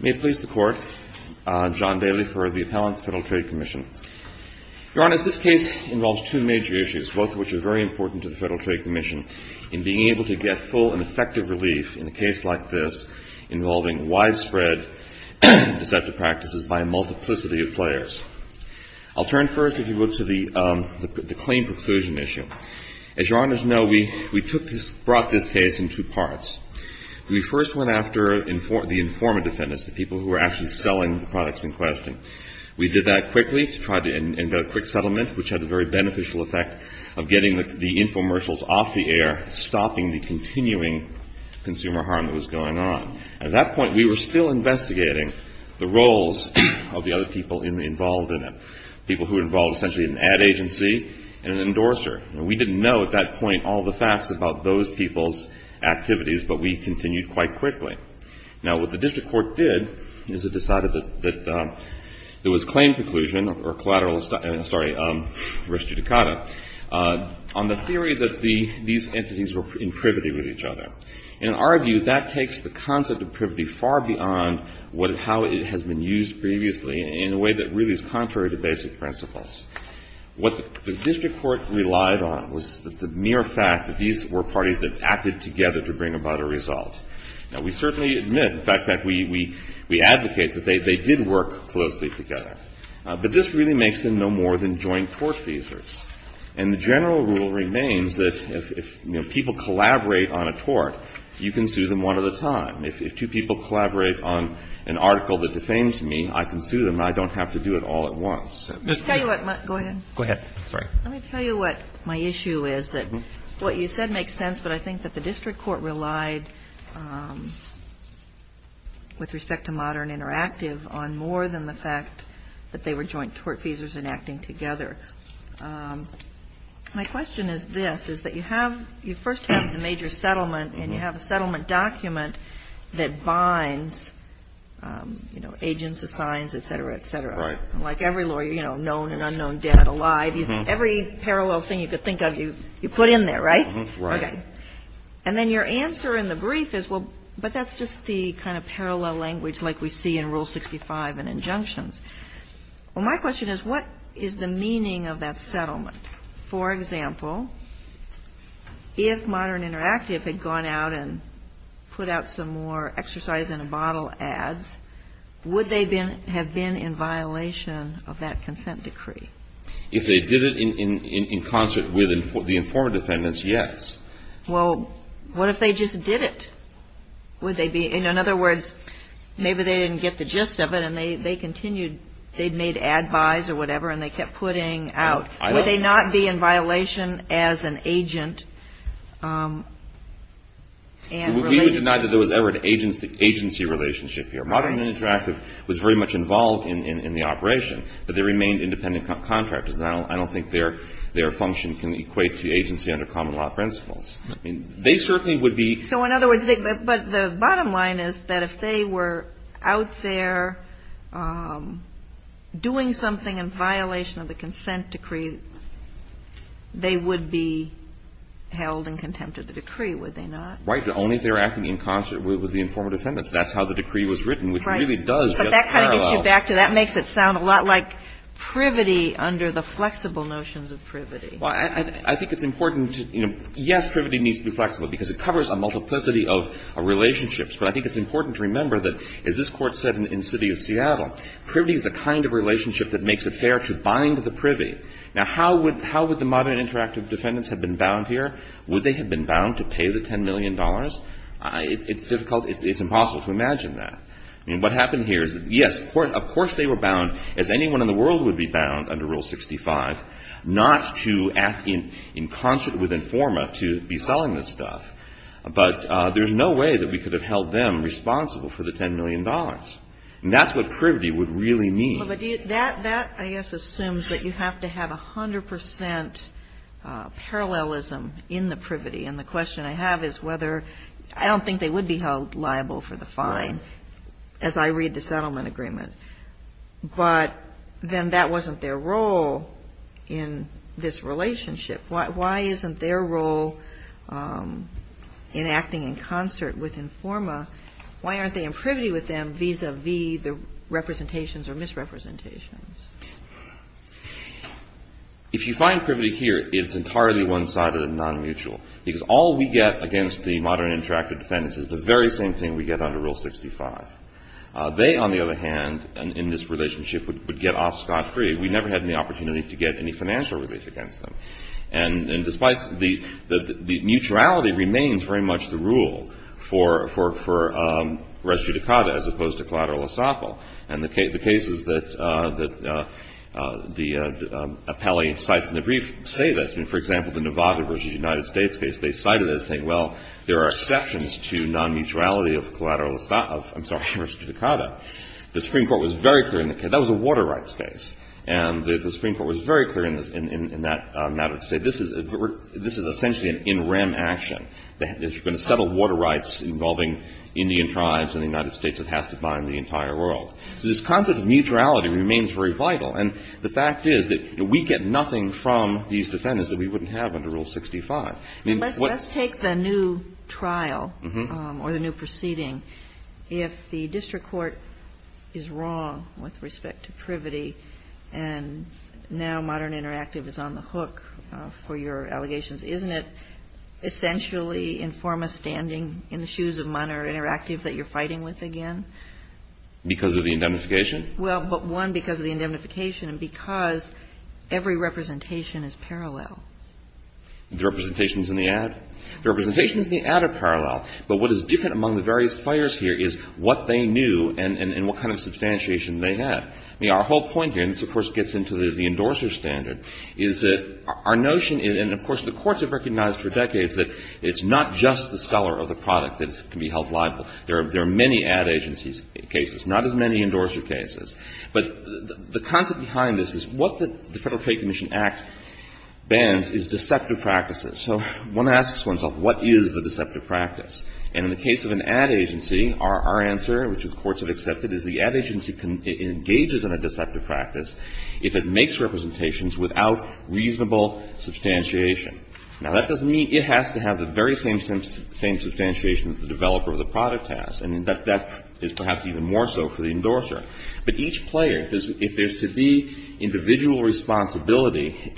May it please the Court, John Daly for the Appellant to the Federal Trade Commission. Your Honor, this case involves two major issues, both of which are very important to the Federal Trade Commission, in being able to get full and effective relief in a case like this involving widespread deceptive practices by a multiplicity of players. I'll turn first, if you will, to the claim preclusion issue. As your Honors know, we brought this case in two parts. We first went after the informant defendants, the people who were actually selling the products in question. We did that quickly to try and get a quick settlement, which had the very beneficial effect of getting the infomercials off the air, stopping the continuing consumer harm that was going on. At that point, we were still investigating the roles of the other people involved in it, people who were involved essentially in an ad agency and an endorser. And we didn't know at that point all the facts about those people's activities, but we continued quite quickly. Now, what the district court did is it decided that there was claim preclusion or collateral, I'm sorry, res judicata, on the theory that these entities were in privity with each other. In our view, that takes the concept of privity far beyond how it has been used previously in a way that really is contrary to basic principles. What the district court relied on was the mere fact that these were parties that acted together to bring about a result. Now, we certainly admit, in fact, that we advocate that they did work closely together. But this really makes them no more than joint tort defeasors. And the general rule remains that if people collaborate on a tort, you can sue them one at a time. If two people collaborate on an article that defames me, I can sue them. I don't have to do it all at once. MS. GOTTLIEB Let me tell you what my issue is. What you said makes sense, but I think that the district court relied, with respect to modern interactive, on more than the fact that they were joint tortfeasors enacting together. My question is this, is that you have you first have the major settlement, and you have a settlement document that binds, you know, agents, assigns, et cetera, et cetera. Like every lawyer, you know, known and unknown, dead and alive. Every parallel thing you could think of, you put in there, right? Okay. And then your answer in the brief is, well, but that's just the kind of parallel language like we see in Rule 65 and injunctions. Well, my question is, what is the meaning of that settlement? For example, if modern interactive had gone out and put out some more exercise in a bottle ads, would they have been in violation of that consent decree? MR. BROOKS If they did it in concert with the informant defendants, yes. MS. GOTTLIEB Well, what if they just did it? In other words, maybe they didn't get the gist of it, and they continued. They made ad buys or whatever, and they kept putting out. Would they not be in violation as an agent? MR. BROOKS We would deny that there was ever an agency relationship here. Modern interactive was very much involved in the operation, but they remained independent contractors. I don't think their function can equate to agency under common law principles. I mean, they certainly would be. GOTTLIEB So in other words, but the bottom line is that if they were out there doing something in violation of the consent decree, they would be held in contempt of the decree, would they not? MR. BROOKS Right. Only if they were acting in concert with the informant defendants. That's how the decree was written, which really does just parallel. MS. GOTTLIEB Right. But that kind of gets you back to that. It makes it sound a lot like privity under the flexible notions of privity. MR. GOTTLIEB But I think it's important to remember that, as this Court said in the city of Seattle, privity is a kind of relationship that makes it fair to bind the privy. Now, how would the modern interactive defendants have been bound here? Would they have been bound to pay the $10 million? It's difficult. It's impossible to imagine that. I mean, what happened here is, yes, of course they were bound, as anyone in the world would be bound under Rule 65, not to act in concert with informant to be selling this stuff. But there's no way that we could have held them responsible for the $10 million. And that's what privity would really mean. GOTTLIEB Well, but that, I guess, assumes that you have to have 100 percent parallelism in the privity. And the question I have is whether – I don't think they would be held liable for the fine as I read the settlement agreement. But then that wasn't their role in this relationship. Why isn't their role in acting in concert with informa – why aren't they in privity with them vis-à-vis the representations or misrepresentations? If you find privity here, it's entirely one-sided and non-mutual because all we get against the modern interactive defendants is the very same thing we get under Rule 65. They, on the other hand, in this relationship, would get off scot-free. We never had any opportunity to get any financial relief against them. And despite – the mutuality remains very much the rule for res judicata as opposed to collateral estoppel. And the cases that the appellee cites in the brief say this. I mean, for example, the Nevada versus the United States case, they cited it as saying, well, there are exceptions to non-mutuality of collateral – I'm sorry, res judicata. The Supreme Court was very clear in the case – that was a water rights case. And the Supreme Court was very clear in that matter to say this is essentially an in rem action. If you're going to settle water rights involving Indian tribes and the United States, it has to bind the entire world. So this concept of mutuality remains very vital. And the fact is that we get nothing from these defendants that we wouldn't have under Rule 65. Let's take the new trial or the new proceeding. If the district court is wrong with respect to privity and now Modern Interactive is on the hook for your allegations, isn't it essentially informa standing in the shoes of Modern Interactive that you're fighting with again? Because of the indemnification? Well, but one, because of the indemnification and because every representation is parallel. The representation is in the ad? The representation is in the ad a parallel. But what is different among the various players here is what they knew and what kind of substantiation they had. I mean, our whole point here – and this, of course, gets into the endorser standard – is that our notion – and, of course, the courts have recognized for decades that it's not just the seller of the product that can be held liable. There are many ad agencies cases, not as many endorser cases. But the concept behind this is what the Federal Trade Commission Act bans is deceptive practices. So one asks oneself, what is the deceptive practice? And in the case of an ad agency, our answer, which the courts have accepted, is the ad agency engages in a deceptive practice if it makes representations without reasonable substantiation. Now, that doesn't mean it has to have the very same substantiation that the developer of the product has. And that is perhaps even more so for the endorser. But each player, if there's to be individual responsibility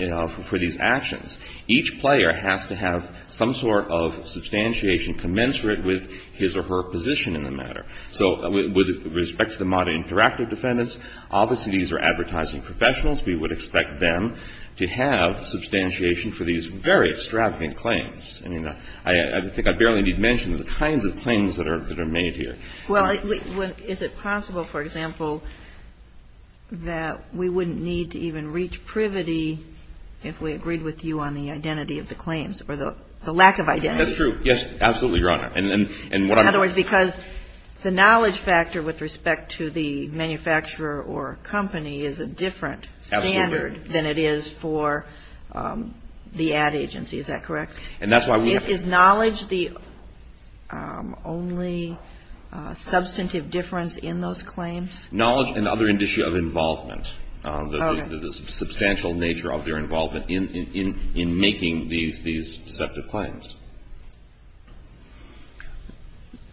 for these actions, each player has to have some sort of substantiation commensurate with his or her position in the matter. So with respect to the modern interactive defendants, obviously these are advertising professionals. We would expect them to have substantiation for these very extravagant claims. I mean, I think I barely need to mention the kinds of claims that are made here. Well, is it possible, for example, that we wouldn't need to even reach privity if we agreed with you on the identity of the claims or the lack of identity? That's true. Yes, absolutely, Your Honor. In other words, because the knowledge factor with respect to the manufacturer or company is a different standard than it is for the ad agency. Is that correct? And that's why we have to Is knowledge the only substantive difference in those claims? Knowledge and other indicia of involvement, the substantial nature of their involvement in making these deceptive claims.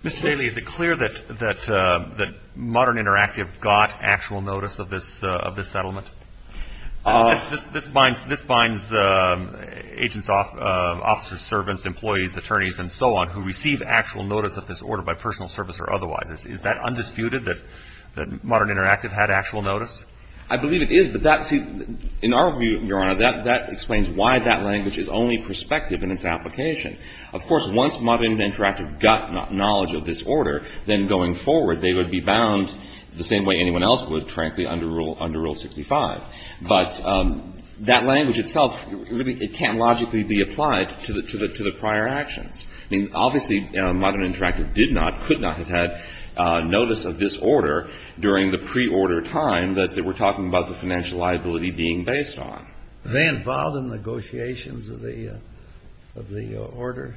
Mr. Daly, is it clear that modern interactive got actual notice of this settlement? This binds agents, officers, servants, employees, attorneys, and so on, who receive actual notice of this order by personal service or otherwise. Is that undisputed, that modern interactive had actual notice? I believe it is, but in our view, Your Honor, that explains why that language is only prospective in its application. Of course, once modern interactive got knowledge of this order, then going forward they would be bound the same way anyone else would, frankly, under Rule 65. But that language itself, it can't logically be applied to the prior actions. I mean, obviously, modern interactive did not, could not have had notice of this order during the preorder time that we're talking about the financial liability being based on. Were they involved in negotiations of the order?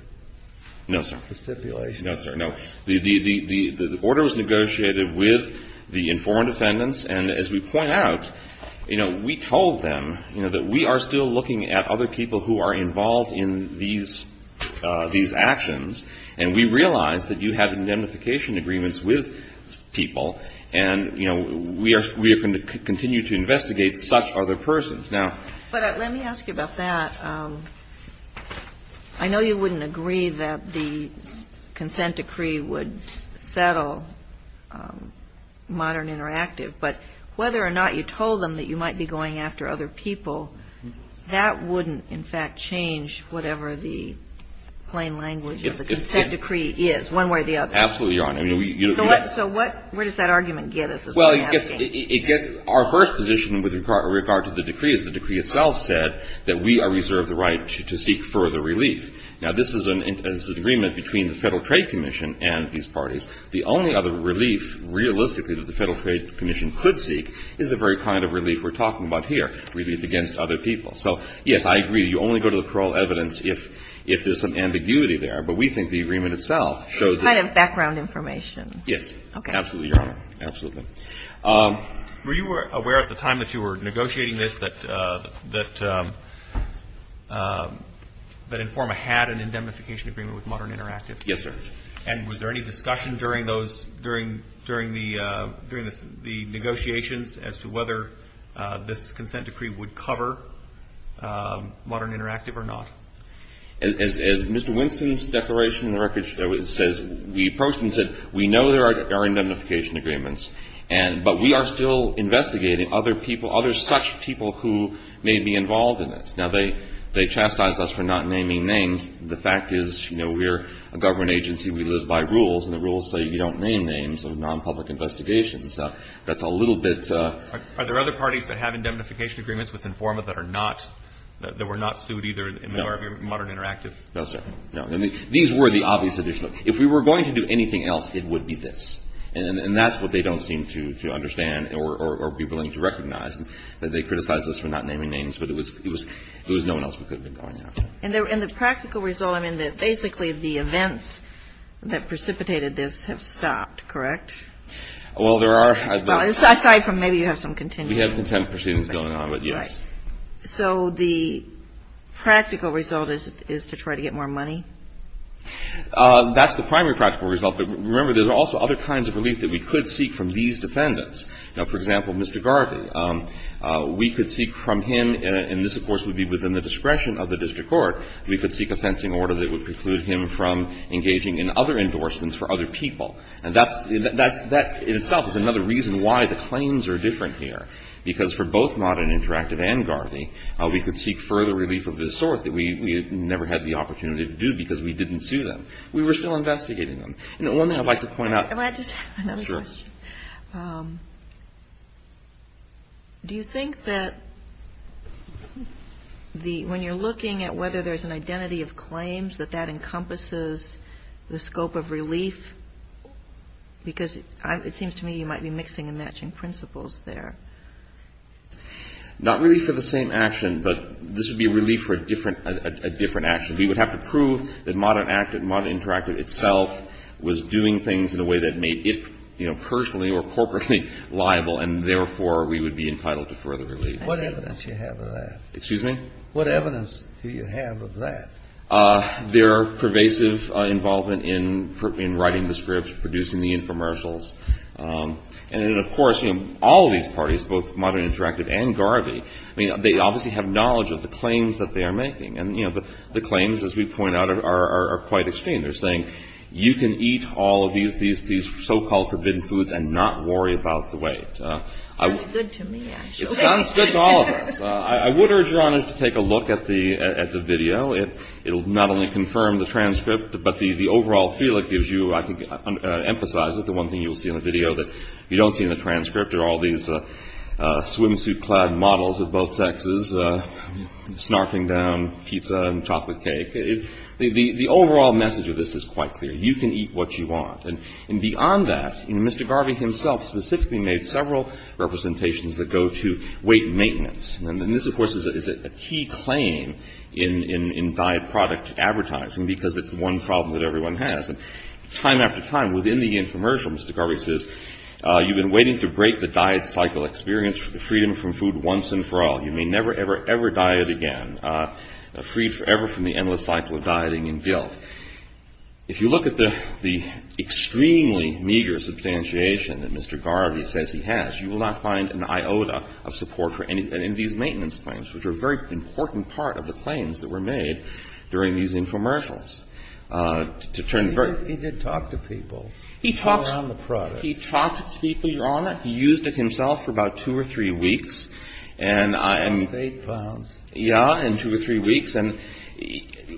No, sir. The stipulation? No, sir, no. The order was negotiated with the informed defendants. And as we point out, you know, we told them, you know, that we are still looking at other people who are involved in these actions, and we realize that you have indemnification agreements with people, and, you know, we are going to continue to investigate such other persons. But let me ask you about that. I know you wouldn't agree that the consent decree would settle modern interactive, but whether or not you told them that you might be going after other people, that wouldn't, in fact, change whatever the plain language of the consent decree is, one way or the other. Absolutely, Your Honor. So what, where does that argument get us? Well, it gets our first position with regard to the decree is the decree itself said that we are reserved the right to seek further relief. Now, this is an agreement between the Federal Trade Commission and these parties. The only other relief, realistically, that the Federal Trade Commission could seek is the very kind of relief we're talking about here, relief against other people. So, yes, I agree. You only go to the plural evidence if there's some ambiguity there. But we think the agreement itself shows that. Kind of background information. Yes. Okay. Absolutely, Your Honor. Absolutely. Were you aware at the time that you were negotiating this that Informa had an indemnification agreement with Modern Interactive? Yes, sir. And was there any discussion during those, during the negotiations as to whether this consent decree would cover Modern Interactive or not? As Mr. Winston's declaration in the record shows, it says we approached and said we know there are indemnification agreements, but we are still investigating other people, other such people who may be involved in this. Now, they chastised us for not naming names. The fact is, you know, we're a government agency. We live by rules, and the rules say you don't name names of nonpublic investigations. That's a little bit. Are there other parties that have indemnification agreements with Informa that are not, that were not sued either in the order of Modern Interactive? No, sir. No. These were the obvious additional. If we were going to do anything else, it would be this. And that's what they don't seem to understand or be willing to recognize, that they criticized us for not naming names, but it was no one else we could have been going after. And the practical result, I mean, basically the events that precipitated this have stopped, correct? Well, there are. Well, aside from maybe you have some continued. We have continued proceedings going on, but yes. So the practical result is to try to get more money? That's the primary practical result. But remember, there's also other kinds of relief that we could seek from these defendants. You know, for example, Mr. Garvey. We could seek from him, and this, of course, would be within the discretion of the district court, we could seek a fencing order that would preclude him from engaging in other endorsements for other people. And that's, that in itself is another reason why the claims are different here, because for both Mott and Interactive and Garvey, we could seek further relief of this sort that we never had the opportunity to do because we didn't sue them. We were still investigating them. You know, one thing I'd like to point out. Can I just add another question? Sure. Do you think that the, when you're looking at whether there's an identity of claims, that that encompasses the scope of relief? Because it seems to me you might be mixing and matching principles there. Not really for the same action, but this would be relief for a different action. We would have to prove that Mott and Interactive itself was doing things in a way that made it, you know, personally or corporately liable, and therefore we would be entitled to further relief. What evidence do you have of that? Excuse me? What evidence do you have of that? There are pervasive involvement in writing the scripts, producing the infomercials, and then, of course, you know, all of these parties, both Mott and Interactive and Garvey, I mean, they obviously have knowledge of the claims that they are making, and, you know, the claims, as we point out, are quite extreme. They're saying you can eat all of these so-called forbidden foods and not worry about the weight. Sounds good to me, actually. It sounds good to all of us. I would urge your honors to take a look at the video. It will not only confirm the transcript, but the overall feel it gives you, I think, I emphasize it, the one thing you will see in the video that you don't see in the transcript, are all these swimsuit-clad models of both sexes snarfing down pizza and chocolate cake. The overall message of this is quite clear. You can eat what you want. And beyond that, Mr. Garvey himself specifically made several representations that go to weight maintenance. And this, of course, is a key claim in diet product advertising because it's the one problem that everyone has. And time after time, within the infomercial, Mr. Garvey says, you've been waiting to break the diet cycle experience for the freedom from food once and for all. You may never, ever, ever diet again, freed forever from the endless cycle of dieting and guilt. If you look at the extremely meager substantiation that Mr. Garvey says he has, you will not find an iota of support for any of these maintenance claims, which are a very important part of the claims that were made during these infomercials. To turn very — He did talk to people. He talked — Around the product. He talked to people, Your Honor. He used it himself for about two or three weeks, and I — That's eight pounds. Yeah, in two or three weeks. And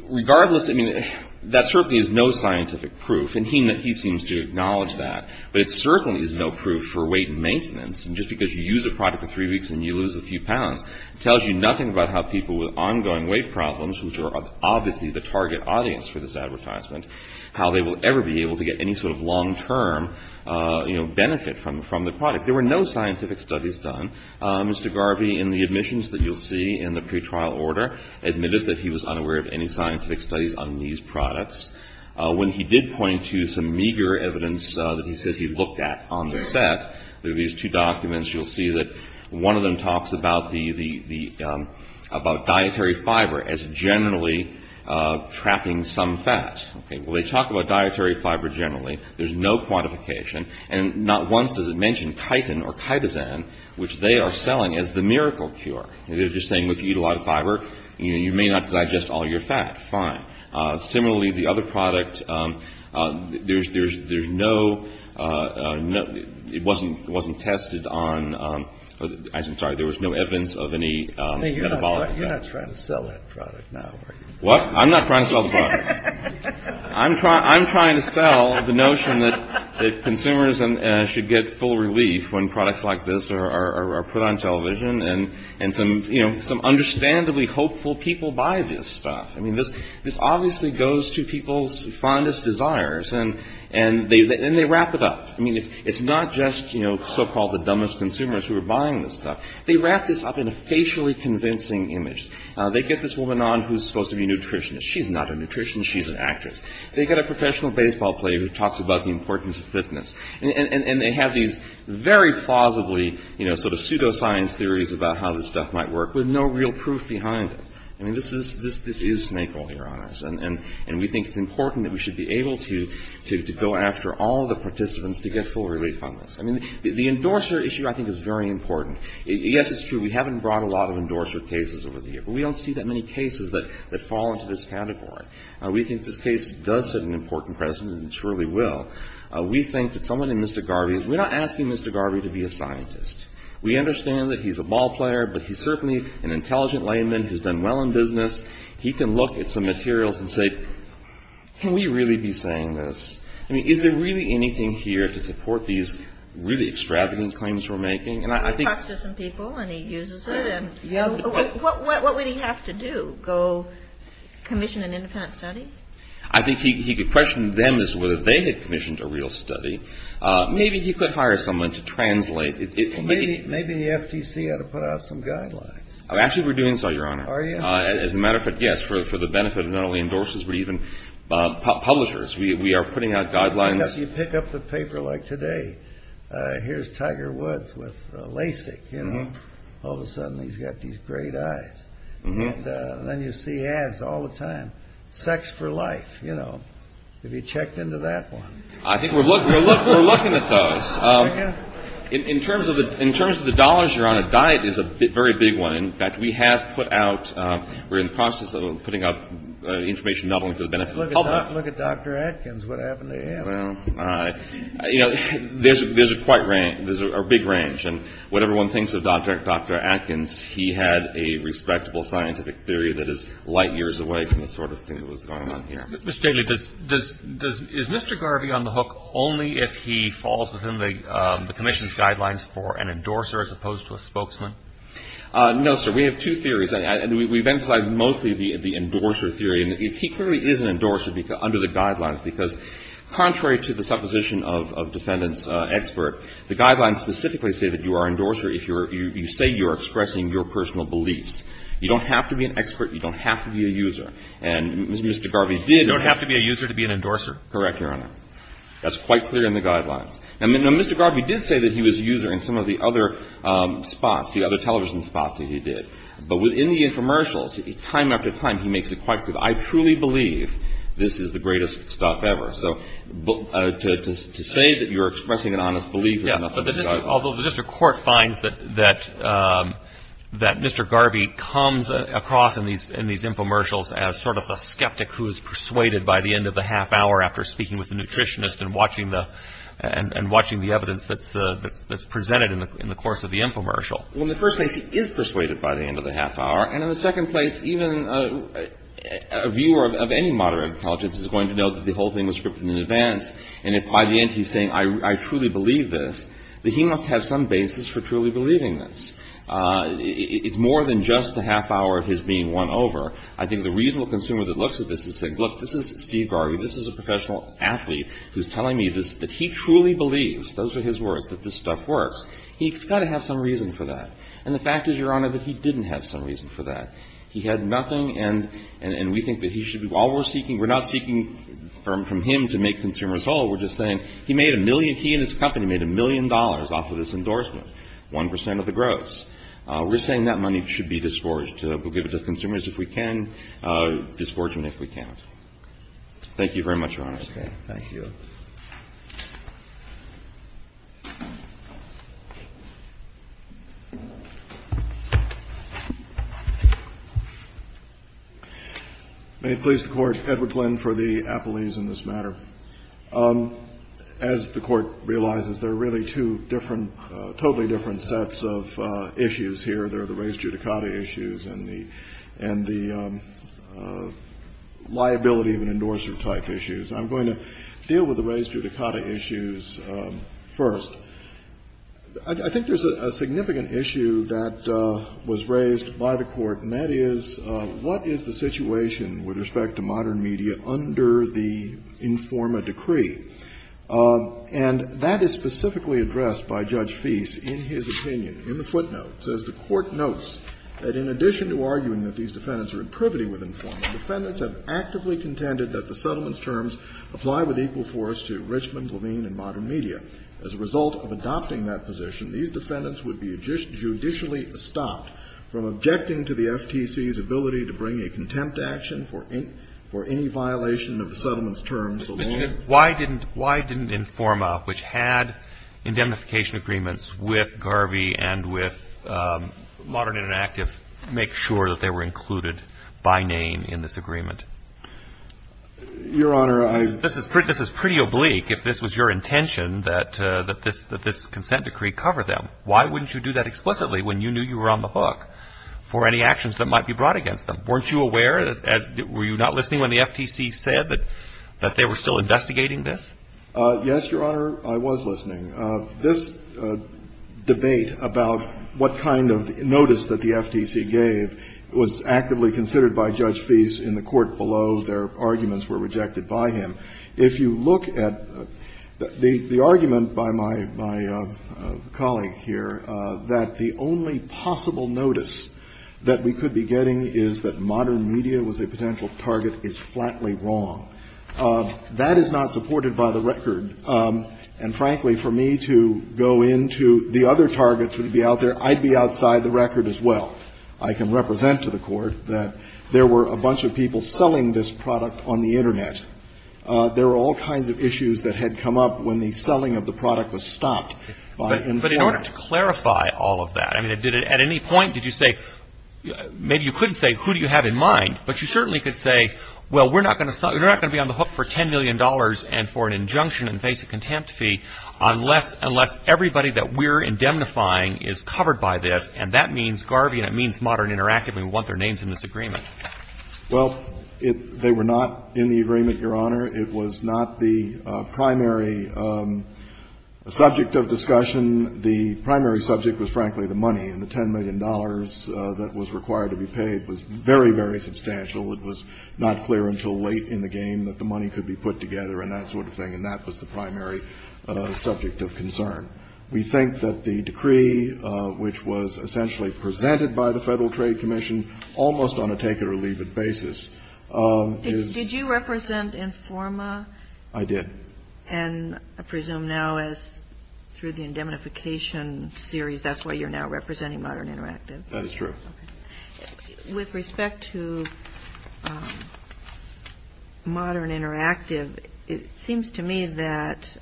regardless, I mean, that certainly is no scientific proof, and he seems to acknowledge that. But it certainly is no proof for weight maintenance. And just because you use a product for three weeks and you lose a few pounds, it tells you nothing about how people with ongoing weight problems, which are obviously the target audience for this advertisement, how they will ever be able to get any sort of long-term, you know, benefit from the product. There were no scientific studies done. Mr. Garvey, in the admissions that you'll see in the pretrial order, admitted that he was unaware of any scientific studies on these products. When he did point to some meager evidence that he says he looked at on the set, through these two documents, you'll see that one of them talks about dietary fiber as generally trapping some fat. Well, they talk about dietary fiber generally. There's no quantification. And not once does it mention chitin or chitosan, which they are selling as the miracle cure. They're just saying, well, if you eat a lot of fiber, you may not digest all your fat. Fine. Similarly, the other product, there's no ‑‑ it wasn't tested on ‑‑ I'm sorry, there was no evidence of any metabolic effect. You're not trying to sell that product now, are you? What? I'm not trying to sell the product. I'm trying to sell the notion that consumers should get full relief when products like this are put on television and some understandably hopeful people buy this stuff. I mean, this obviously goes to people's fondest desires, and they wrap it up. I mean, it's not just, you know, so‑called the dumbest consumers who are buying this stuff. They wrap this up in a facially convincing image. They get this woman on who's supposed to be a nutritionist. She's not a nutritionist. She's an actress. They get a professional baseball player who talks about the importance of fitness, and they have these very plausibly, you know, sort of pseudoscience theories about how this stuff might work with no real proof behind it. I mean, this is snake oil, Your Honors, and we think it's important that we should be able to go after all the participants to get full relief on this. I mean, the endorser issue, I think, is very important. Yes, it's true. We haven't brought a lot of endorser cases over the years, but we don't see that many cases that fall into this category. We think this case does set an important precedent and truly will. We think that someone in Mr. Garvey's ‑‑ we're not asking Mr. Garvey to be a scientist. We understand that he's a ball player, but he's certainly an intelligent layman who's done well in business. He can look at some materials and say, can we really be saying this? I mean, is there really anything here to support these really extravagant claims we're making? He talks to some people, and he uses it. What would he have to do? Go commission an independent study? I think he could question them as to whether they had commissioned a real study. Maybe he could hire someone to translate. Maybe the FTC ought to put out some guidelines. Actually, we're doing so, Your Honor. Are you? As a matter of fact, yes, for the benefit of not only endorsers but even publishers. We are putting out guidelines. You pick up the paper like today. Here's Tiger Woods with LASIK. All of a sudden, he's got these great eyes. And then you see ads all the time. Sex for life, you know. Have you checked into that one? I think we're looking at those. In terms of the dollars, Your Honor, diet is a very big one. In fact, we have put out we're in the process of putting out information not only for the benefit of publishers. Look at Dr. Atkins. What happened to him? You know, there's a big range. And what everyone thinks of Dr. Atkins, he had a respectable scientific theory that is light years away from the sort of thing that was going on here. Mr. Daly, is Mr. Garvey on the hook only if he falls within the commission's guidelines for an endorser as opposed to a spokesman? No, sir. We have two theories. We've emphasized mostly the endorser theory. He clearly is an endorser under the guidelines because contrary to the supposition of defendant's expert, the guidelines specifically say that you are an endorser if you say you're expressing your personal beliefs. You don't have to be an expert. You don't have to be a user. And Mr. Garvey did. You don't have to be a user to be an endorser. Correct, Your Honor. That's quite clear in the guidelines. Now, Mr. Garvey did say that he was a user in some of the other spots, the other television spots that he did. But within the infomercials, time after time, he makes it quite clear, I truly believe this is the greatest stuff ever. So to say that you're expressing an honest belief is not under the guidelines. Although the district court finds that Mr. Garvey comes across in these infomercials as sort of a skeptic who is persuaded by the end of the half hour after speaking with a nutritionist and watching the evidence that's presented in the course of the infomercial. Well, in the first place, he is persuaded by the end of the half hour. And in the second place, even a viewer of any moderate intelligence is going to know that the whole thing was scripted in advance. And if by the end he's saying, I truly believe this, that he must have some basis for truly believing this. It's more than just the half hour of his being won over. I think the reasonable consumer that looks at this is saying, look, this is Steve Garvey. This is a professional athlete who's telling me that he truly believes, those are his words, that this stuff works. He's got to have some reason for that. And the fact is, Your Honor, that he didn't have some reason for that. He had nothing. And we think that he should be all we're seeking. We're not seeking from him to make consumers whole. We're just saying he made a million, he and his company made a million dollars off of this endorsement, 1 percent of the gross. We're saying that money should be disgorged. We'll give it to consumers if we can, disgorge them if we can't. Thank you very much, Your Honor. Thank you. May it please the Court. Edward Glenn for the appellees in this matter. As the Court realizes, there are really two different, totally different sets of issues here. There are the raised judicata issues and the liability of an endorser type issues. I'm going to deal with the raised judicata issues first. I think there's a significant issue that was raised by the Court, and that is, what is the situation with respect to modern media under the INFORMA decree? And that is specifically addressed by Judge Feist in his opinion, in the footnotes. As the Court notes, that in addition to arguing that these defendants are in privity with INFORMA, defendants have actively contended that the settlement's terms apply with equal force to Richmond, Levine, and modern media. As a result of adopting that position, these defendants would be judicially stopped from objecting to the FTC's ability to bring a contempt action for any violation of the settlement's terms. Why didn't INFORMA, which had indemnification agreements with Garvey and with Modern Interactive, make sure that they were included by name in this agreement? Your Honor, I This is pretty oblique if this was your intention that this consent decree cover them. Why wouldn't you do that explicitly when you knew you were on the hook for any actions that might be brought against them? Weren't you aware? Were you not listening when the FTC said that they were still investigating this? Yes, Your Honor, I was listening. This debate about what kind of notice that the FTC gave was actively considered by Judge Feist in the court below. Their arguments were rejected by him. If you look at the argument by my colleague here that the only possible notice that we could be getting is that modern media was a potential target is flatly wrong. That is not supported by the record. And frankly, for me to go into the other targets that would be out there, I'd be outside the record as well. I can represent to the court that there were a bunch of people selling this product on the Internet. There were all kinds of issues that had come up when the selling of the product was stopped. But in order to clarify all of that, I mean, did it at any point did you say maybe you couldn't say who do you have in mind, but you certainly could say, well, we're not going to be on the hook for $10 million and for an injunction and basic contempt fee unless everybody that we're indemnifying is covered by this. And that means Garvey and it means Modern Interactive. We want their names in this agreement. Well, they were not in the agreement, Your Honor. It was not the primary subject of discussion. The primary subject was, frankly, the money, and the $10 million that was required to be paid was very, very substantial. It was not clear until late in the game that the money could be put together and that sort of thing, and that was the primary subject of concern. We think that the decree, which was essentially presented by the Federal Trade Commission almost on a take-it-or-leave-it basis. Did you represent Informa? I did. And I presume now as through the indemnification series, that's why you're now representing Modern Interactive. That is true. With respect to Modern Interactive, it seems to me that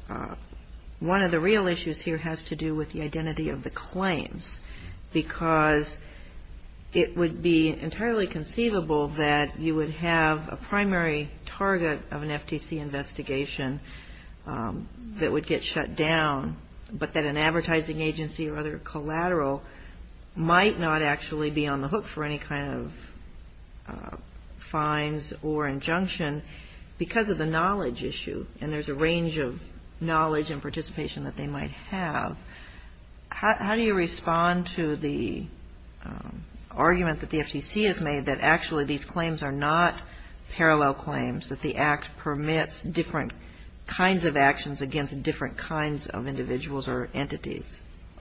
one of the real issues here has to do with the identity of the claims because it would be entirely conceivable that you would have a primary target of an FTC investigation that would get shut down, but that an advertising agency or other collateral might not actually be on the hook for any kind of fines or injunction because of the knowledge issue, and there's a range of knowledge and participation that they might have. How do you respond to the argument that the FTC has made that actually these claims are not parallel claims, that the Act permits different kinds of actions against different kinds of individuals or entities?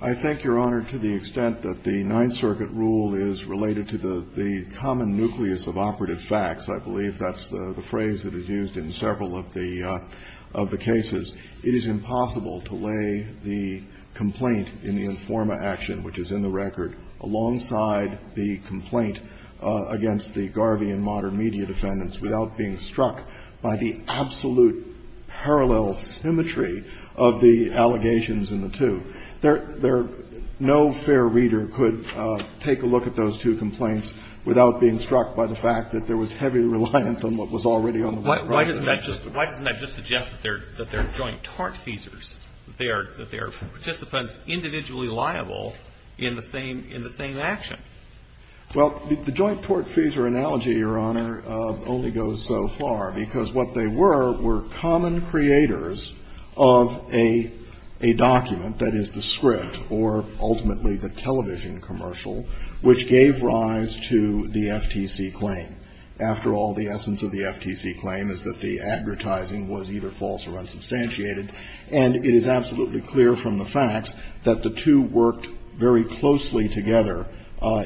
I think, Your Honor, to the extent that the Ninth Circuit rule is related to the common nucleus of operative facts, I believe that's the phrase that is used in several of the cases, it is impossible to lay the complaint in the Informa action, which is in the record, alongside the complaint against the Garvey and Modern Media defendants without being struck by the absolute parallel symmetry of the allegations in the two. No fair reader could take a look at those two complaints without being struck by the fact that there was heavy reliance on what was already on the record. Why doesn't that just suggest that they're joint tortfeasors, that they are participants individually liable in the same action? Well, the joint tortfeasor analogy, Your Honor, only goes so far because what they were, were common creators of a document that is the script, or ultimately the television commercial, which gave rise to the FTC claim. After all, the essence of the FTC claim is that the advertising was either false or unsubstantiated. And it is absolutely clear from the facts that the two worked very closely together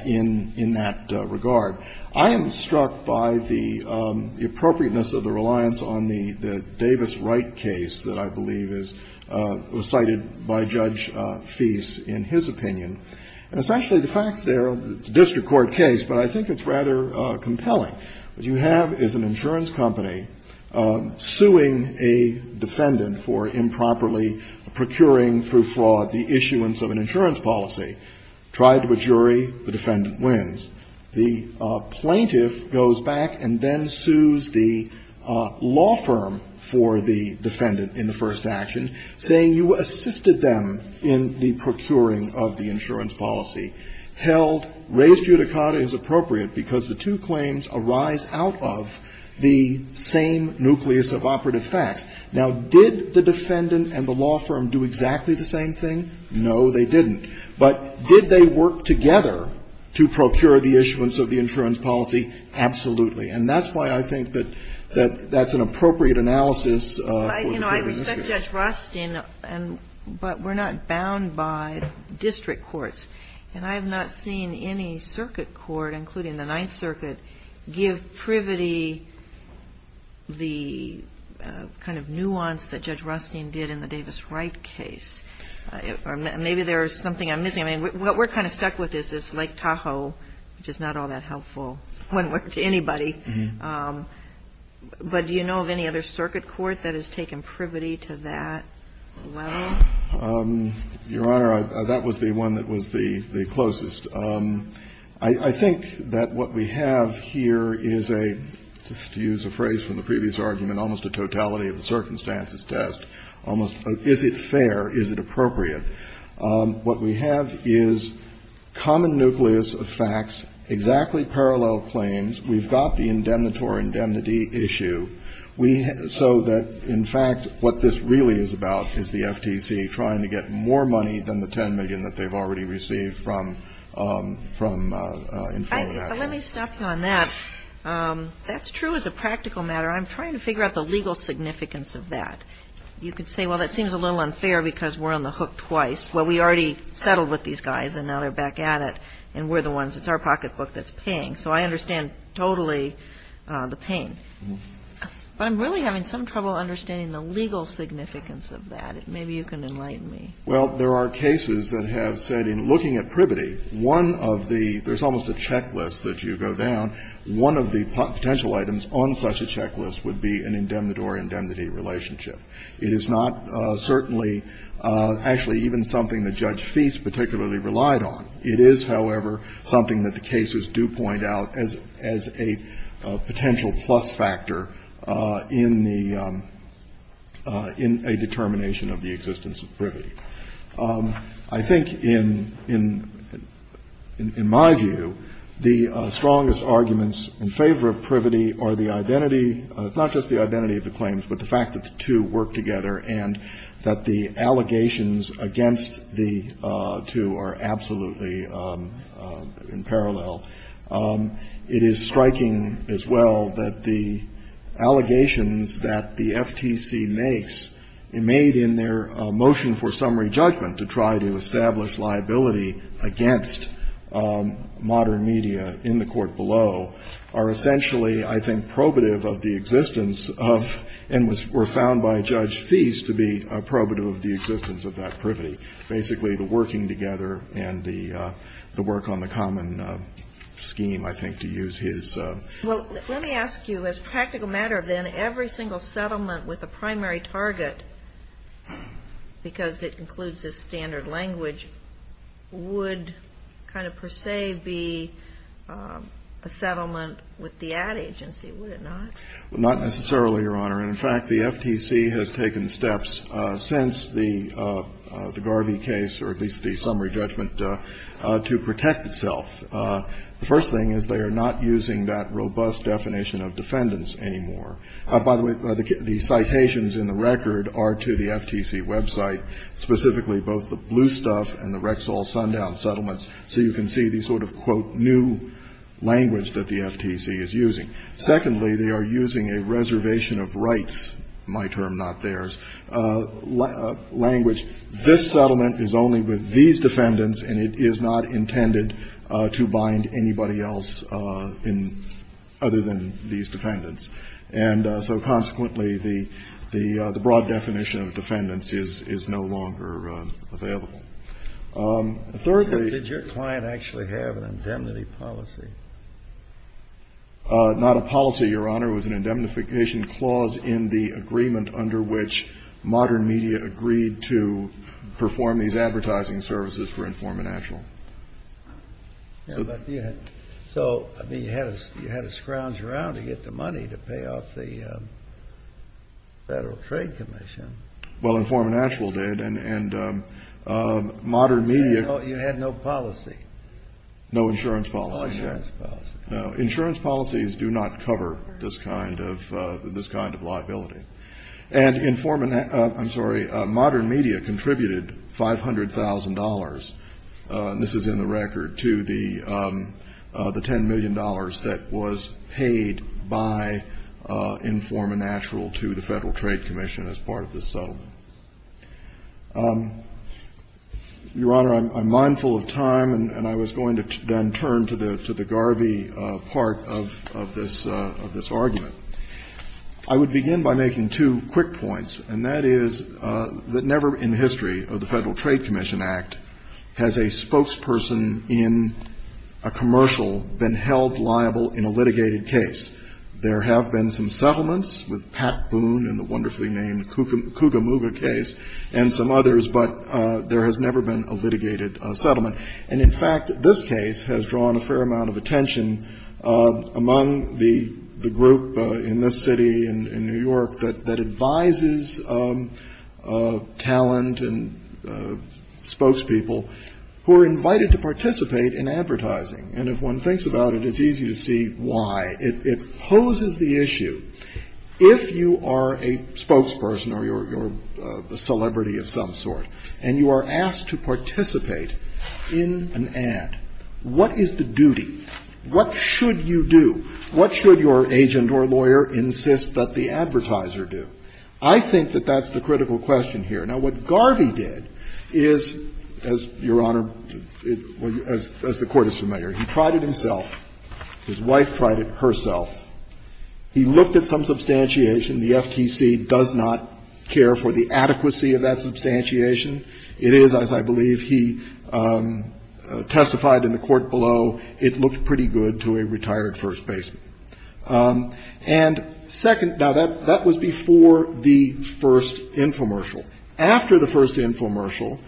in that regard. I am struck by the appropriateness of the reliance on the Davis-Wright case that I believe is cited by Justice Breyer in his opinion. And essentially the facts there, it's a district court case, but I think it's rather compelling. What you have is an insurance company suing a defendant for improperly procuring through fraud the issuance of an insurance policy. Tried to a jury, the defendant wins. The plaintiff goes back and then sues the law firm for the defendant in the first action, saying you assisted them in the procuring of the insurance policy. Held, res judicata is appropriate, because the two claims arise out of the same nucleus of operative fact. Now, did the defendant and the law firm do exactly the same thing? No, they didn't. But did they work together to procure the issuance of the insurance policy? Absolutely. And that's why I think that that's an appropriate analysis for the court in this case. We've stuck Judge Rostein, but we're not bound by district courts. And I have not seen any circuit court, including the Ninth Circuit, give privity the kind of nuance that Judge Rostein did in the Davis-Wright case. Maybe there is something I'm missing. I mean, what we're kind of stuck with is this Lake Tahoe, which is not all that helpful when we're to anybody. But do you know of any other circuit court that has taken privity to that level? Your Honor, that was the one that was the closest. I think that what we have here is a, to use a phrase from the previous argument, almost a totality of the circumstances test, almost, is it fair, is it appropriate? What we have is common nucleus of facts, exactly parallel claims. We've got the indemnitore indemnity issue. So that, in fact, what this really is about is the FTC trying to get more money than the $10 million that they've already received from information. Let me stop you on that. That's true as a practical matter. I'm trying to figure out the legal significance of that. You could say, well, that seems a little unfair because we're on the hook twice. Well, we already settled with these guys, and now they're back at it, and we're the ones, it's our pocketbook that's paying. So I understand totally the pain. But I'm really having some trouble understanding the legal significance of that. Maybe you can enlighten me. Well, there are cases that have said in looking at privity, one of the, there's almost a checklist that you go down, one of the potential items on such a checklist would be an indemnitore indemnity relationship. It is not certainly, actually even something that Judge Feist particularly relied on. It is, however, something that the cases do point out as a potential plus factor in the, in a determination of the existence of privity. I think in my view, the strongest arguments in favor of privity are the identity, it's not just the identity of the claims, but the fact that the two work together and that the allegations against the two are absolutely in parallel. It is striking as well that the allegations that the FTC makes made in their motion for summary judgment to try to establish liability against modern media in the court below are essentially, I think, probative of the existence of, and were found by Judge Feist to be probative of the existence of that privity. Basically, the working together and the work on the common scheme, I think, to use his. Well, let me ask you, as a practical matter then, every single settlement with a primary target, because it includes a standard language, would kind of per se be a settlement with the ad agency, would it not? Well, not necessarily, Your Honor. And in fact, the FTC has taken steps since the Garvey case, or at least the summary judgment, to protect itself. The first thing is they are not using that robust definition of defendants anymore. By the way, the citations in the record are to the FTC website, specifically both the Blue Stuff and the Rexall Sundown settlements, so you can see the sort of, quote, new language that the FTC is using. Secondly, they are using a reservation of rights, my term, not theirs, language, this settlement is only with these defendants and it is not intended to bind anybody else in, other than these defendants. And so consequently, the broad definition of defendants is no longer available. Thirdly. But did your client actually have an indemnity policy? Not a policy, Your Honor. It was an indemnification clause in the agreement under which Modern Media agreed to perform these advertising services for Informant National. So, I mean, you had to scrounge around to get the money to pay off the Federal Trade Commission. Well, Informant National did, and Modern Media. You had no policy. No insurance policy. No, insurance policies do not cover this kind of liability. And Informant, I'm sorry, Modern Media contributed $500,000, this is in the record, to the $10 million that was paid by Informant National to the Federal Trade Commission as part of this settlement. Your Honor, I'm mindful of time and I was going to then turn to the Garvey part of this argument. I would begin by making two quick points, and that is that never in the history of the Federal Trade Commission Act has a spokesperson in a commercial been held liable in a litigated case. There have been some settlements with Pat Boone in the wonderfully named Kugamuga case and some others, but there has never been a litigated settlement. And, in fact, this case has drawn a fair amount of attention among the group in this city in New York that advises talent and spokespeople who are invited to participate in advertising. And if one thinks about it, it's easy to see why. It poses the issue, if you are a spokesperson or you're a celebrity of some sort and you are asked to participate in an ad, what is the duty? What should you do? What should your agent or lawyer insist that the advertiser do? I think that that's the critical question here. Now, what Garvey did is, Your Honor, as the Court is familiar, he tried it himself. His wife tried it herself. He looked at some substantiation. The FTC does not care for the adequacy of that substantiation. It is, as I believe he testified in the court below, it looked pretty good to a retired first baseman. And second, now, that was before the first infomercial. After the first infomercial,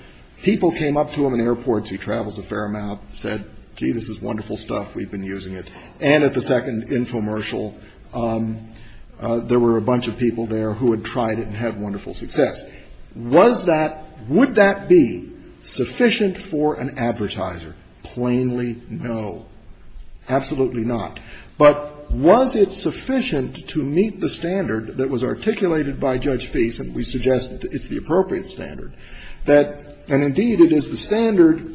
people came up to him in airports, he travels a fair amount, said, gee, this is wonderful stuff, we've been using it. And at the second infomercial, there were a bunch of people there who had tried it and had wonderful success. Was that, would that be sufficient for an advertiser? Plainly no. Absolutely not. But was it sufficient to meet the standard that was articulated by Judge Fease, and we suggest that it's the appropriate standard, that, and indeed it is the standard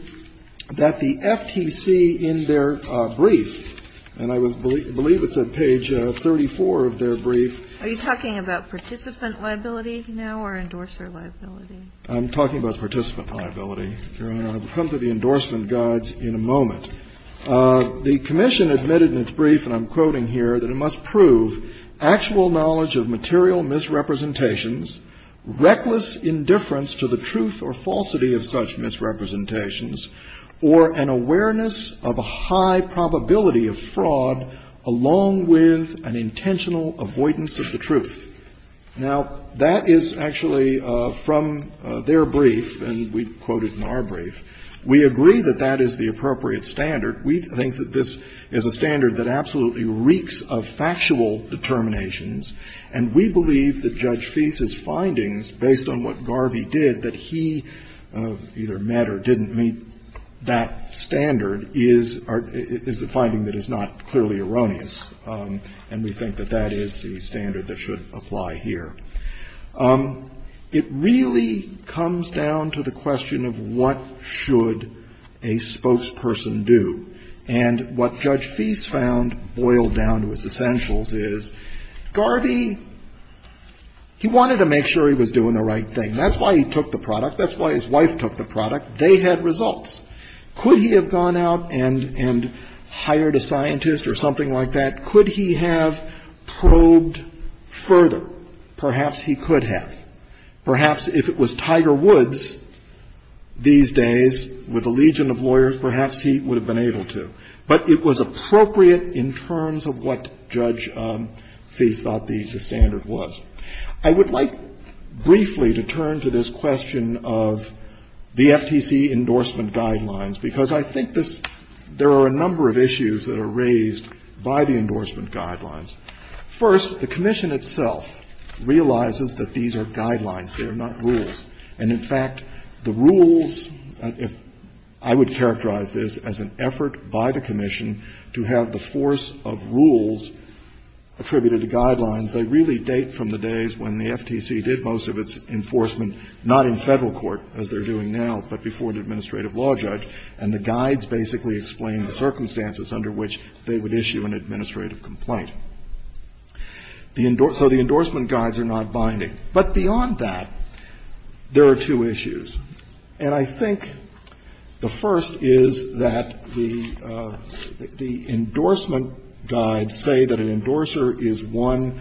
that the FTC in their brief, and I believe it's at page 34 of their brief. Are you talking about participant liability now or endorser liability? I'm talking about participant liability, Your Honor. I will come to the endorsement guides in a moment. The commission admitted in its brief, and I'm quoting here, that it must prove actual knowledge of material misrepresentations, reckless indifference to the truth or falsity of such misrepresentations, or an awareness of a high probability of fraud along with an intentional avoidance of the truth. Now, that is actually from their brief, and we quote it in our brief. We agree that that is the appropriate standard. We think that this is a standard that absolutely reeks of factual determinations, and we believe that Judge Fease's findings, based on what Garvey did, that he either met or didn't meet that standard, is a finding that is not clearly erroneous. And we think that that is the standard that should apply here. It really comes down to the question of what should a spokesperson do. And what Judge Fease found, boiled down to its essentials, is Garvey, he wanted to make sure he was doing the right thing. That's why he took the product. That's why his wife took the product. They had results. Could he have gone out and hired a scientist or something like that? Could he have probed further? Perhaps he could have. Perhaps if it was Tiger Woods these days with a legion of lawyers, perhaps he would have been able to. But it was appropriate in terms of what Judge Fease thought the standard was. I would like briefly to turn to this question of the FTC endorsement guidelines, because I think there are a number of issues that are raised by the endorsement guidelines. First, the Commission itself realizes that these are guidelines. They are not rules. And, in fact, the rules, if I would characterize this as an effort by the Commission to have the force of rules attributed to guidelines, they really date from the days when the FTC did most of its enforcement, not in Federal court as they're doing now, but before an administrative law judge. And the guides basically explain the circumstances under which they would issue an administrative complaint. So the endorsement guides are not binding. But beyond that, there are two issues. And I think the first is that the endorsement guides say that an endorser is one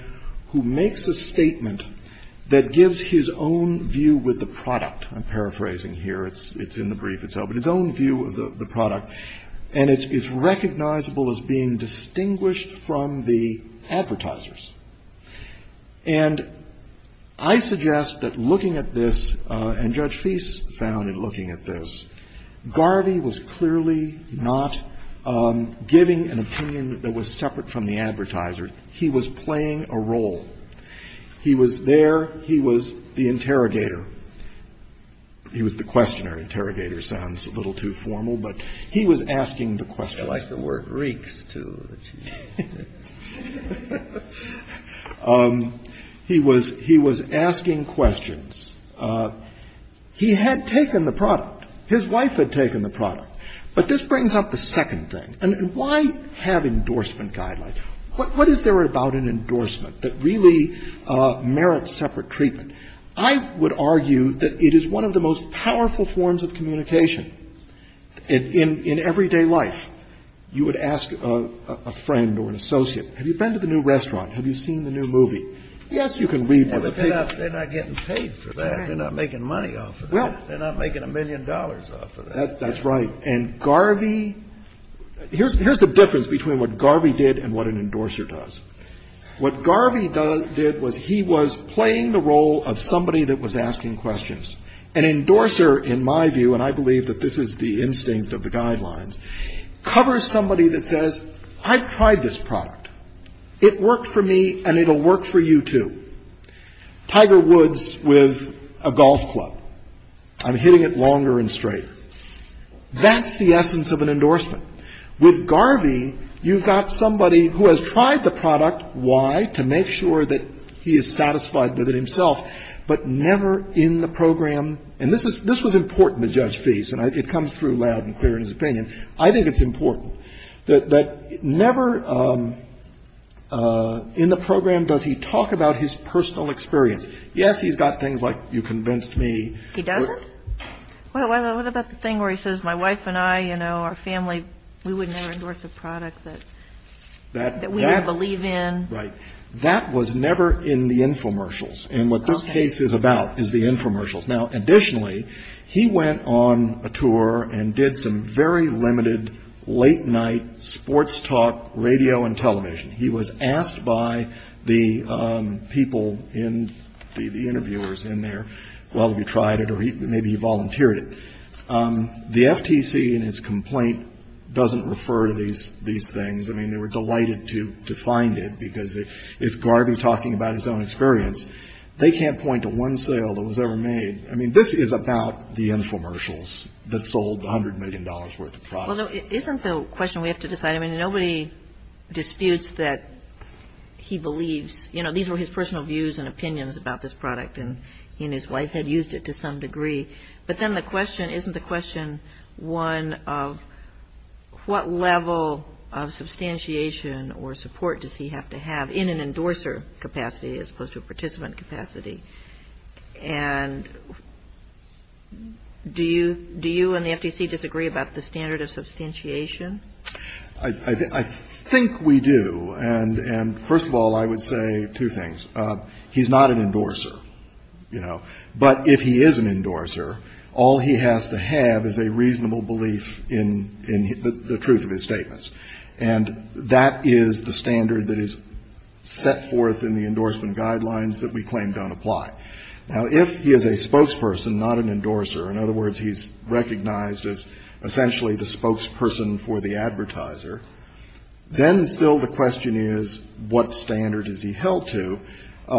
who makes a statement that gives his own view with the product. I'm paraphrasing here. It's in the brief itself. But his own view of the product. And it's recognizable as being distinguished from the advertisers. And I suggest that looking at this, and Judge Feist found in looking at this, Garvey was clearly not giving an opinion that was separate from the advertiser. He was playing a role. He was there. He was the interrogator. He was the questioner. The interrogator sounds a little too formal, but he was asking the questions. Kennedy. I like the word reeks, too. He was asking questions. He had taken the product. His wife had taken the product. But this brings up the second thing. Why have endorsement guidelines? What is there about an endorsement that really merits separate treatment? I would argue that it is one of the most powerful forms of communication. In everyday life, you would ask a friend or an associate, have you been to the new restaurant? Have you seen the new movie? Yes, you can read one of the papers. They're not getting paid for that. They're not making money off of that. They're not making a million dollars off of that. That's right. And Garvey, here's the difference between what Garvey did and what an endorser does. What Garvey did was he was playing the role of somebody that was asking questions. An endorser, in my view, and I believe that this is the instinct of the guidelines, covers somebody that says, I've tried this product. It worked for me, and it will work for you, too. Tiger Woods with a golf club. I'm hitting it longer and straighter. That's the essence of an endorsement. With Garvey, you've got somebody who has tried the product. Why? To make sure that he is satisfied with it himself, but never in the program. And this was important to Judge Feist, and it comes through loud and clear in his opinion. I think it's important that never in the program does he talk about his personal experience. Yes, he's got things like, you convinced me. He doesn't? What about the thing where he says, my wife and I, you know, our family, we would never endorse a product that we don't believe in? Right. That was never in the infomercials. And what this case is about is the infomercials. Now, additionally, he went on a tour and did some very limited late-night sports talk radio and television. He was asked by the people in, the interviewers in there, well, have you tried it, or maybe he volunteered it. The FTC, in its complaint, doesn't refer to these things. I mean, they were delighted to find it, because it's Garvey talking about his own experience. They can't point to one sale that was ever made. I mean, this is about the infomercials that sold the $100 million worth of product. Well, no, isn't the question we have to decide. I mean, nobody disputes that he believes, you know, these were his personal views and opinions about this product, and he and his wife had used it to some degree. But then the question, isn't the question one of what level of substantiation or support does he have to have in an endorser capacity as opposed to a participant capacity? And do you and the FTC disagree about the standard of substantiation? I think we do. And, first of all, I would say two things. He's not an endorser, you know. But if he is an endorser, all he has to have is a reasonable belief in the truth of his statements. And that is the standard that is set forth in the endorsement guidelines that we claim don't apply. Now, if he is a spokesperson, not an endorser, in other words, he's recognized as essentially the spokesperson for the advertiser, then still the question is what standard is he held to? The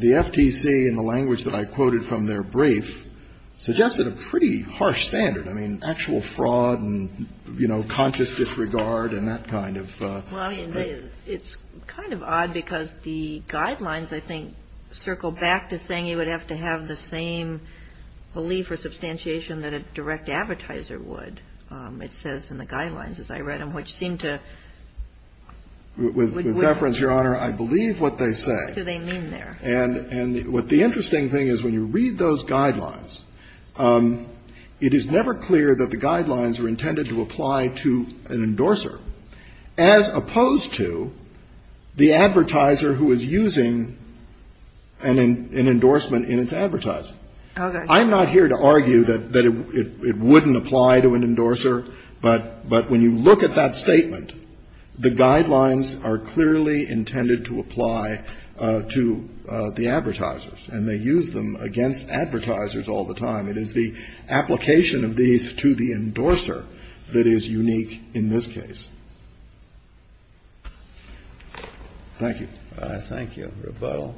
FTC, in the language that I quoted from their brief, suggested a pretty harsh standard. I mean, actual fraud and, you know, conscious disregard and that kind of thing. Well, it's kind of odd because the guidelines, I think, circle back to saying he would have to have the same belief or substantiation that a direct advertiser would. It says in the guidelines, as I read them, which seem to... With reference, Your Honor, I believe what they say. What do they mean there? And what the interesting thing is, when you read those guidelines, it is never clear that the guidelines are intended to apply to an endorser, as opposed to the advertiser who is using an endorsement in its advertiser. Okay. I'm not here to argue that it wouldn't apply to an endorser, but when you look at that statement, the guidelines are clearly intended to apply to the advertisers, and they use them against advertisers all the time. It is the application of these to the endorser that is unique in this case. Thank you. Thank you. Rebuttal.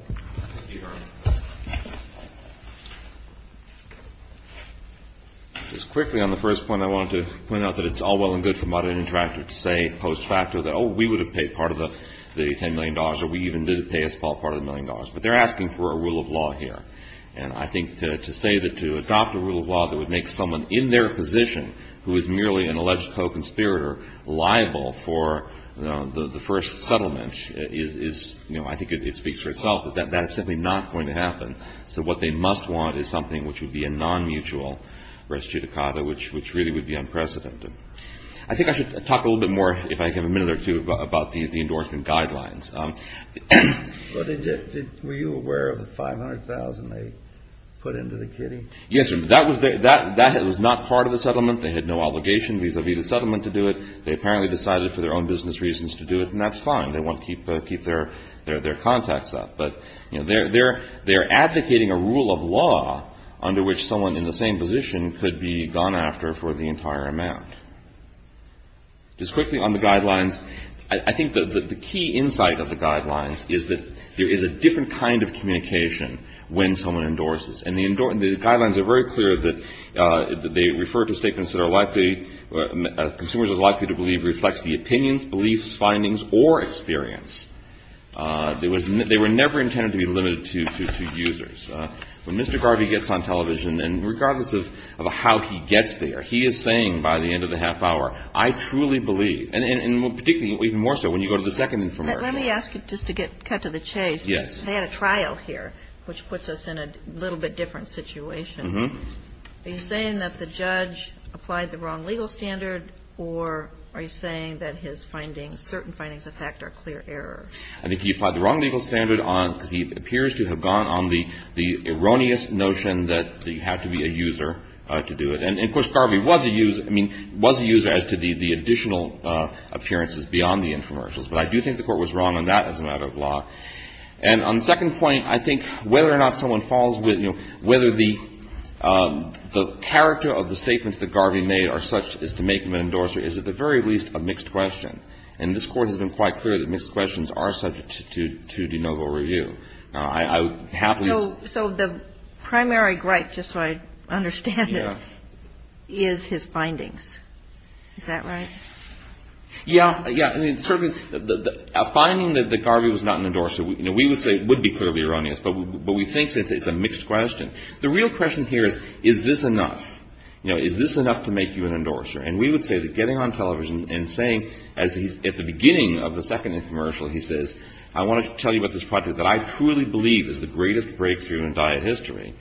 Your Honor. Just quickly on the first point, I wanted to point out that it's all well and good for Modern Interactive to say post-facto that, oh, we would have paid part of the $10 million, or we even did pay a small part of the $1 million. But they're asking for a rule of law here, and I think to say that to adopt a rule of law that would make someone in their position who is merely an alleged co-conspirator liable for the first settlement is, you know, I think it speaks for itself that that is simply not going to happen. So what they must want is something which would be a non-mutual res judicata, which really would be unprecedented. I think I should talk a little bit more, if I have a minute or two, about the endorsement guidelines. Were you aware of the $500,000 they put into the kitty? Yes. That was not part of the settlement. They had no obligation vis-a-vis the settlement to do it. They apparently decided for their own business reasons to do it, and that's fine. They want to keep their contacts up. But, you know, they're advocating a rule of law under which someone in the same position could be gone after for the entire amount. Just quickly on the guidelines. I think the key insight of the guidelines is that there is a different kind of communication when someone endorses. And the guidelines are very clear that they refer to statements that are likely, consumers are likely to believe reflects the opinions, beliefs, findings, or experience. They were never intended to be limited to users. When Mr. Garvey gets on television, and regardless of how he gets there, he is saying by the end of the half hour, I truly believe. And particularly, even more so, when you go to the second infomercial. Let me ask you, just to cut to the chase. Yes. They had a trial here, which puts us in a little bit different situation. Are you saying that the judge applied the wrong legal standard, or are you saying that his findings, certain findings of fact, are clear errors? I think he applied the wrong legal standard because he appears to have gone on the erroneous notion that you have to be a user to do it. And, of course, Garvey was a user. I mean, was a user as to the additional appearances beyond the infomercials. But I do think the Court was wrong on that as a matter of law. And on the second point, I think whether or not someone falls with, you know, whether the character of the statements that Garvey made are such as to make him an endorser is, at the very least, a mixed question. And this Court has been quite clear that mixed questions are subject to de novo review. Now, I would have to ask. So the primary gripe, just so I understand it, is his findings. Is that right? Yeah. Yeah. I mean, certainly a finding that Garvey was not an endorser, you know, we would say it's a mixed question. The real question here is, is this enough? You know, is this enough to make you an endorser? And we would say that getting on television and saying, as he's at the beginning of the second infomercial, he says, I want to tell you about this project that I truly believe is the greatest breakthrough in diet history.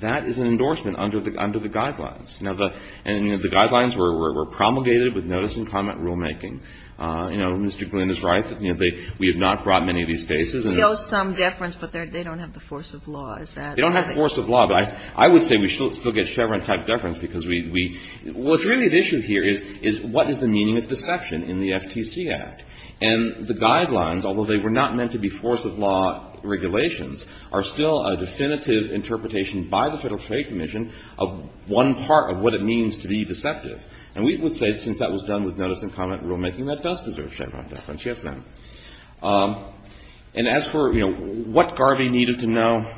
That is an endorsement under the guidelines. Now, the guidelines were promulgated with notice and comment rulemaking. You know, Mr. Glynn is right. We have not brought many of these cases. We know some deference, but they don't have the force of law. They don't have force of law. But I would say we still get Chevron-type deference because we – what's really at issue here is what is the meaning of deception in the FTC Act? And the guidelines, although they were not meant to be force of law regulations, are still a definitive interpretation by the Federal Trade Commission of one part of what it means to be deceptive. And we would say, since that was done with notice and comment rulemaking, that does deserve Chevron deference. Yes, ma'am. And as for, you know, what Garvey needed to know,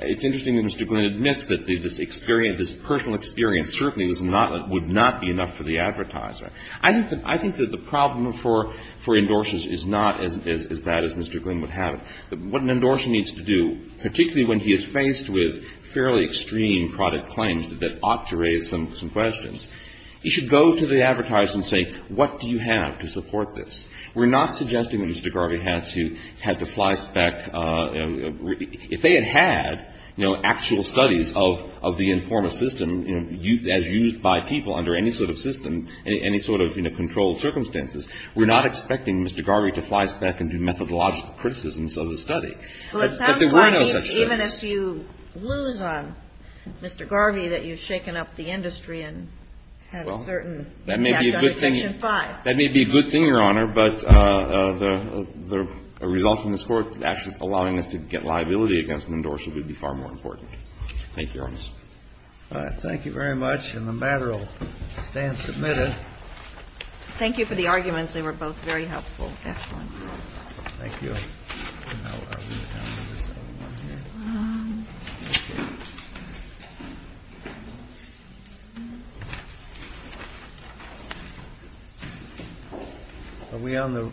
it's interesting that Mr. Glynn admits that this experience, this personal experience certainly was not – would not be enough for the advertiser. I think that the problem for endorsers is not as bad as Mr. Glynn would have it. What an endorser needs to do, particularly when he is faced with fairly extreme product claims that ought to raise some questions, he should go to the advertiser and say, what do you have to support this? We're not suggesting that Mr. Garvey had to fly spec. If they had had, you know, actual studies of the informal system, you know, as used by people under any sort of system, any sort of, you know, controlled circumstances, we're not expecting Mr. Garvey to fly spec and do methodological criticisms of the study. But there were no such studies. Well, it sounds like even as you lose on Mr. Garvey that you've shaken up the industry and had a certain impact on Section 5. That may be a good thing, Your Honor, but the result from this Court actually allowing us to get liability against an endorser would be far more important. Thank you, Your Honor. All right. Thank you very much. And the matter will stand submitted. Thank you for the arguments. They were both very helpful. Excellent. Thank you. Are we on the?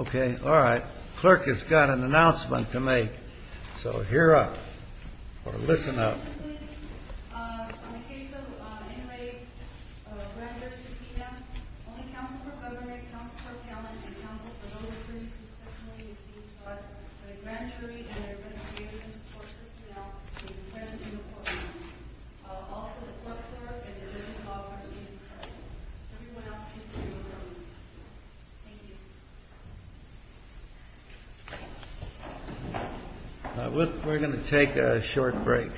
Okay. All right. Clerk has got an announcement to make. So hear up or listen up. We're going to take a short break.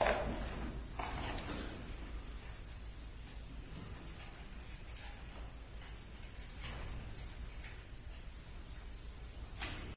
All rise. Thank you. Thank you. Thank you. Thank you. Thank you. Thank you. Thank you.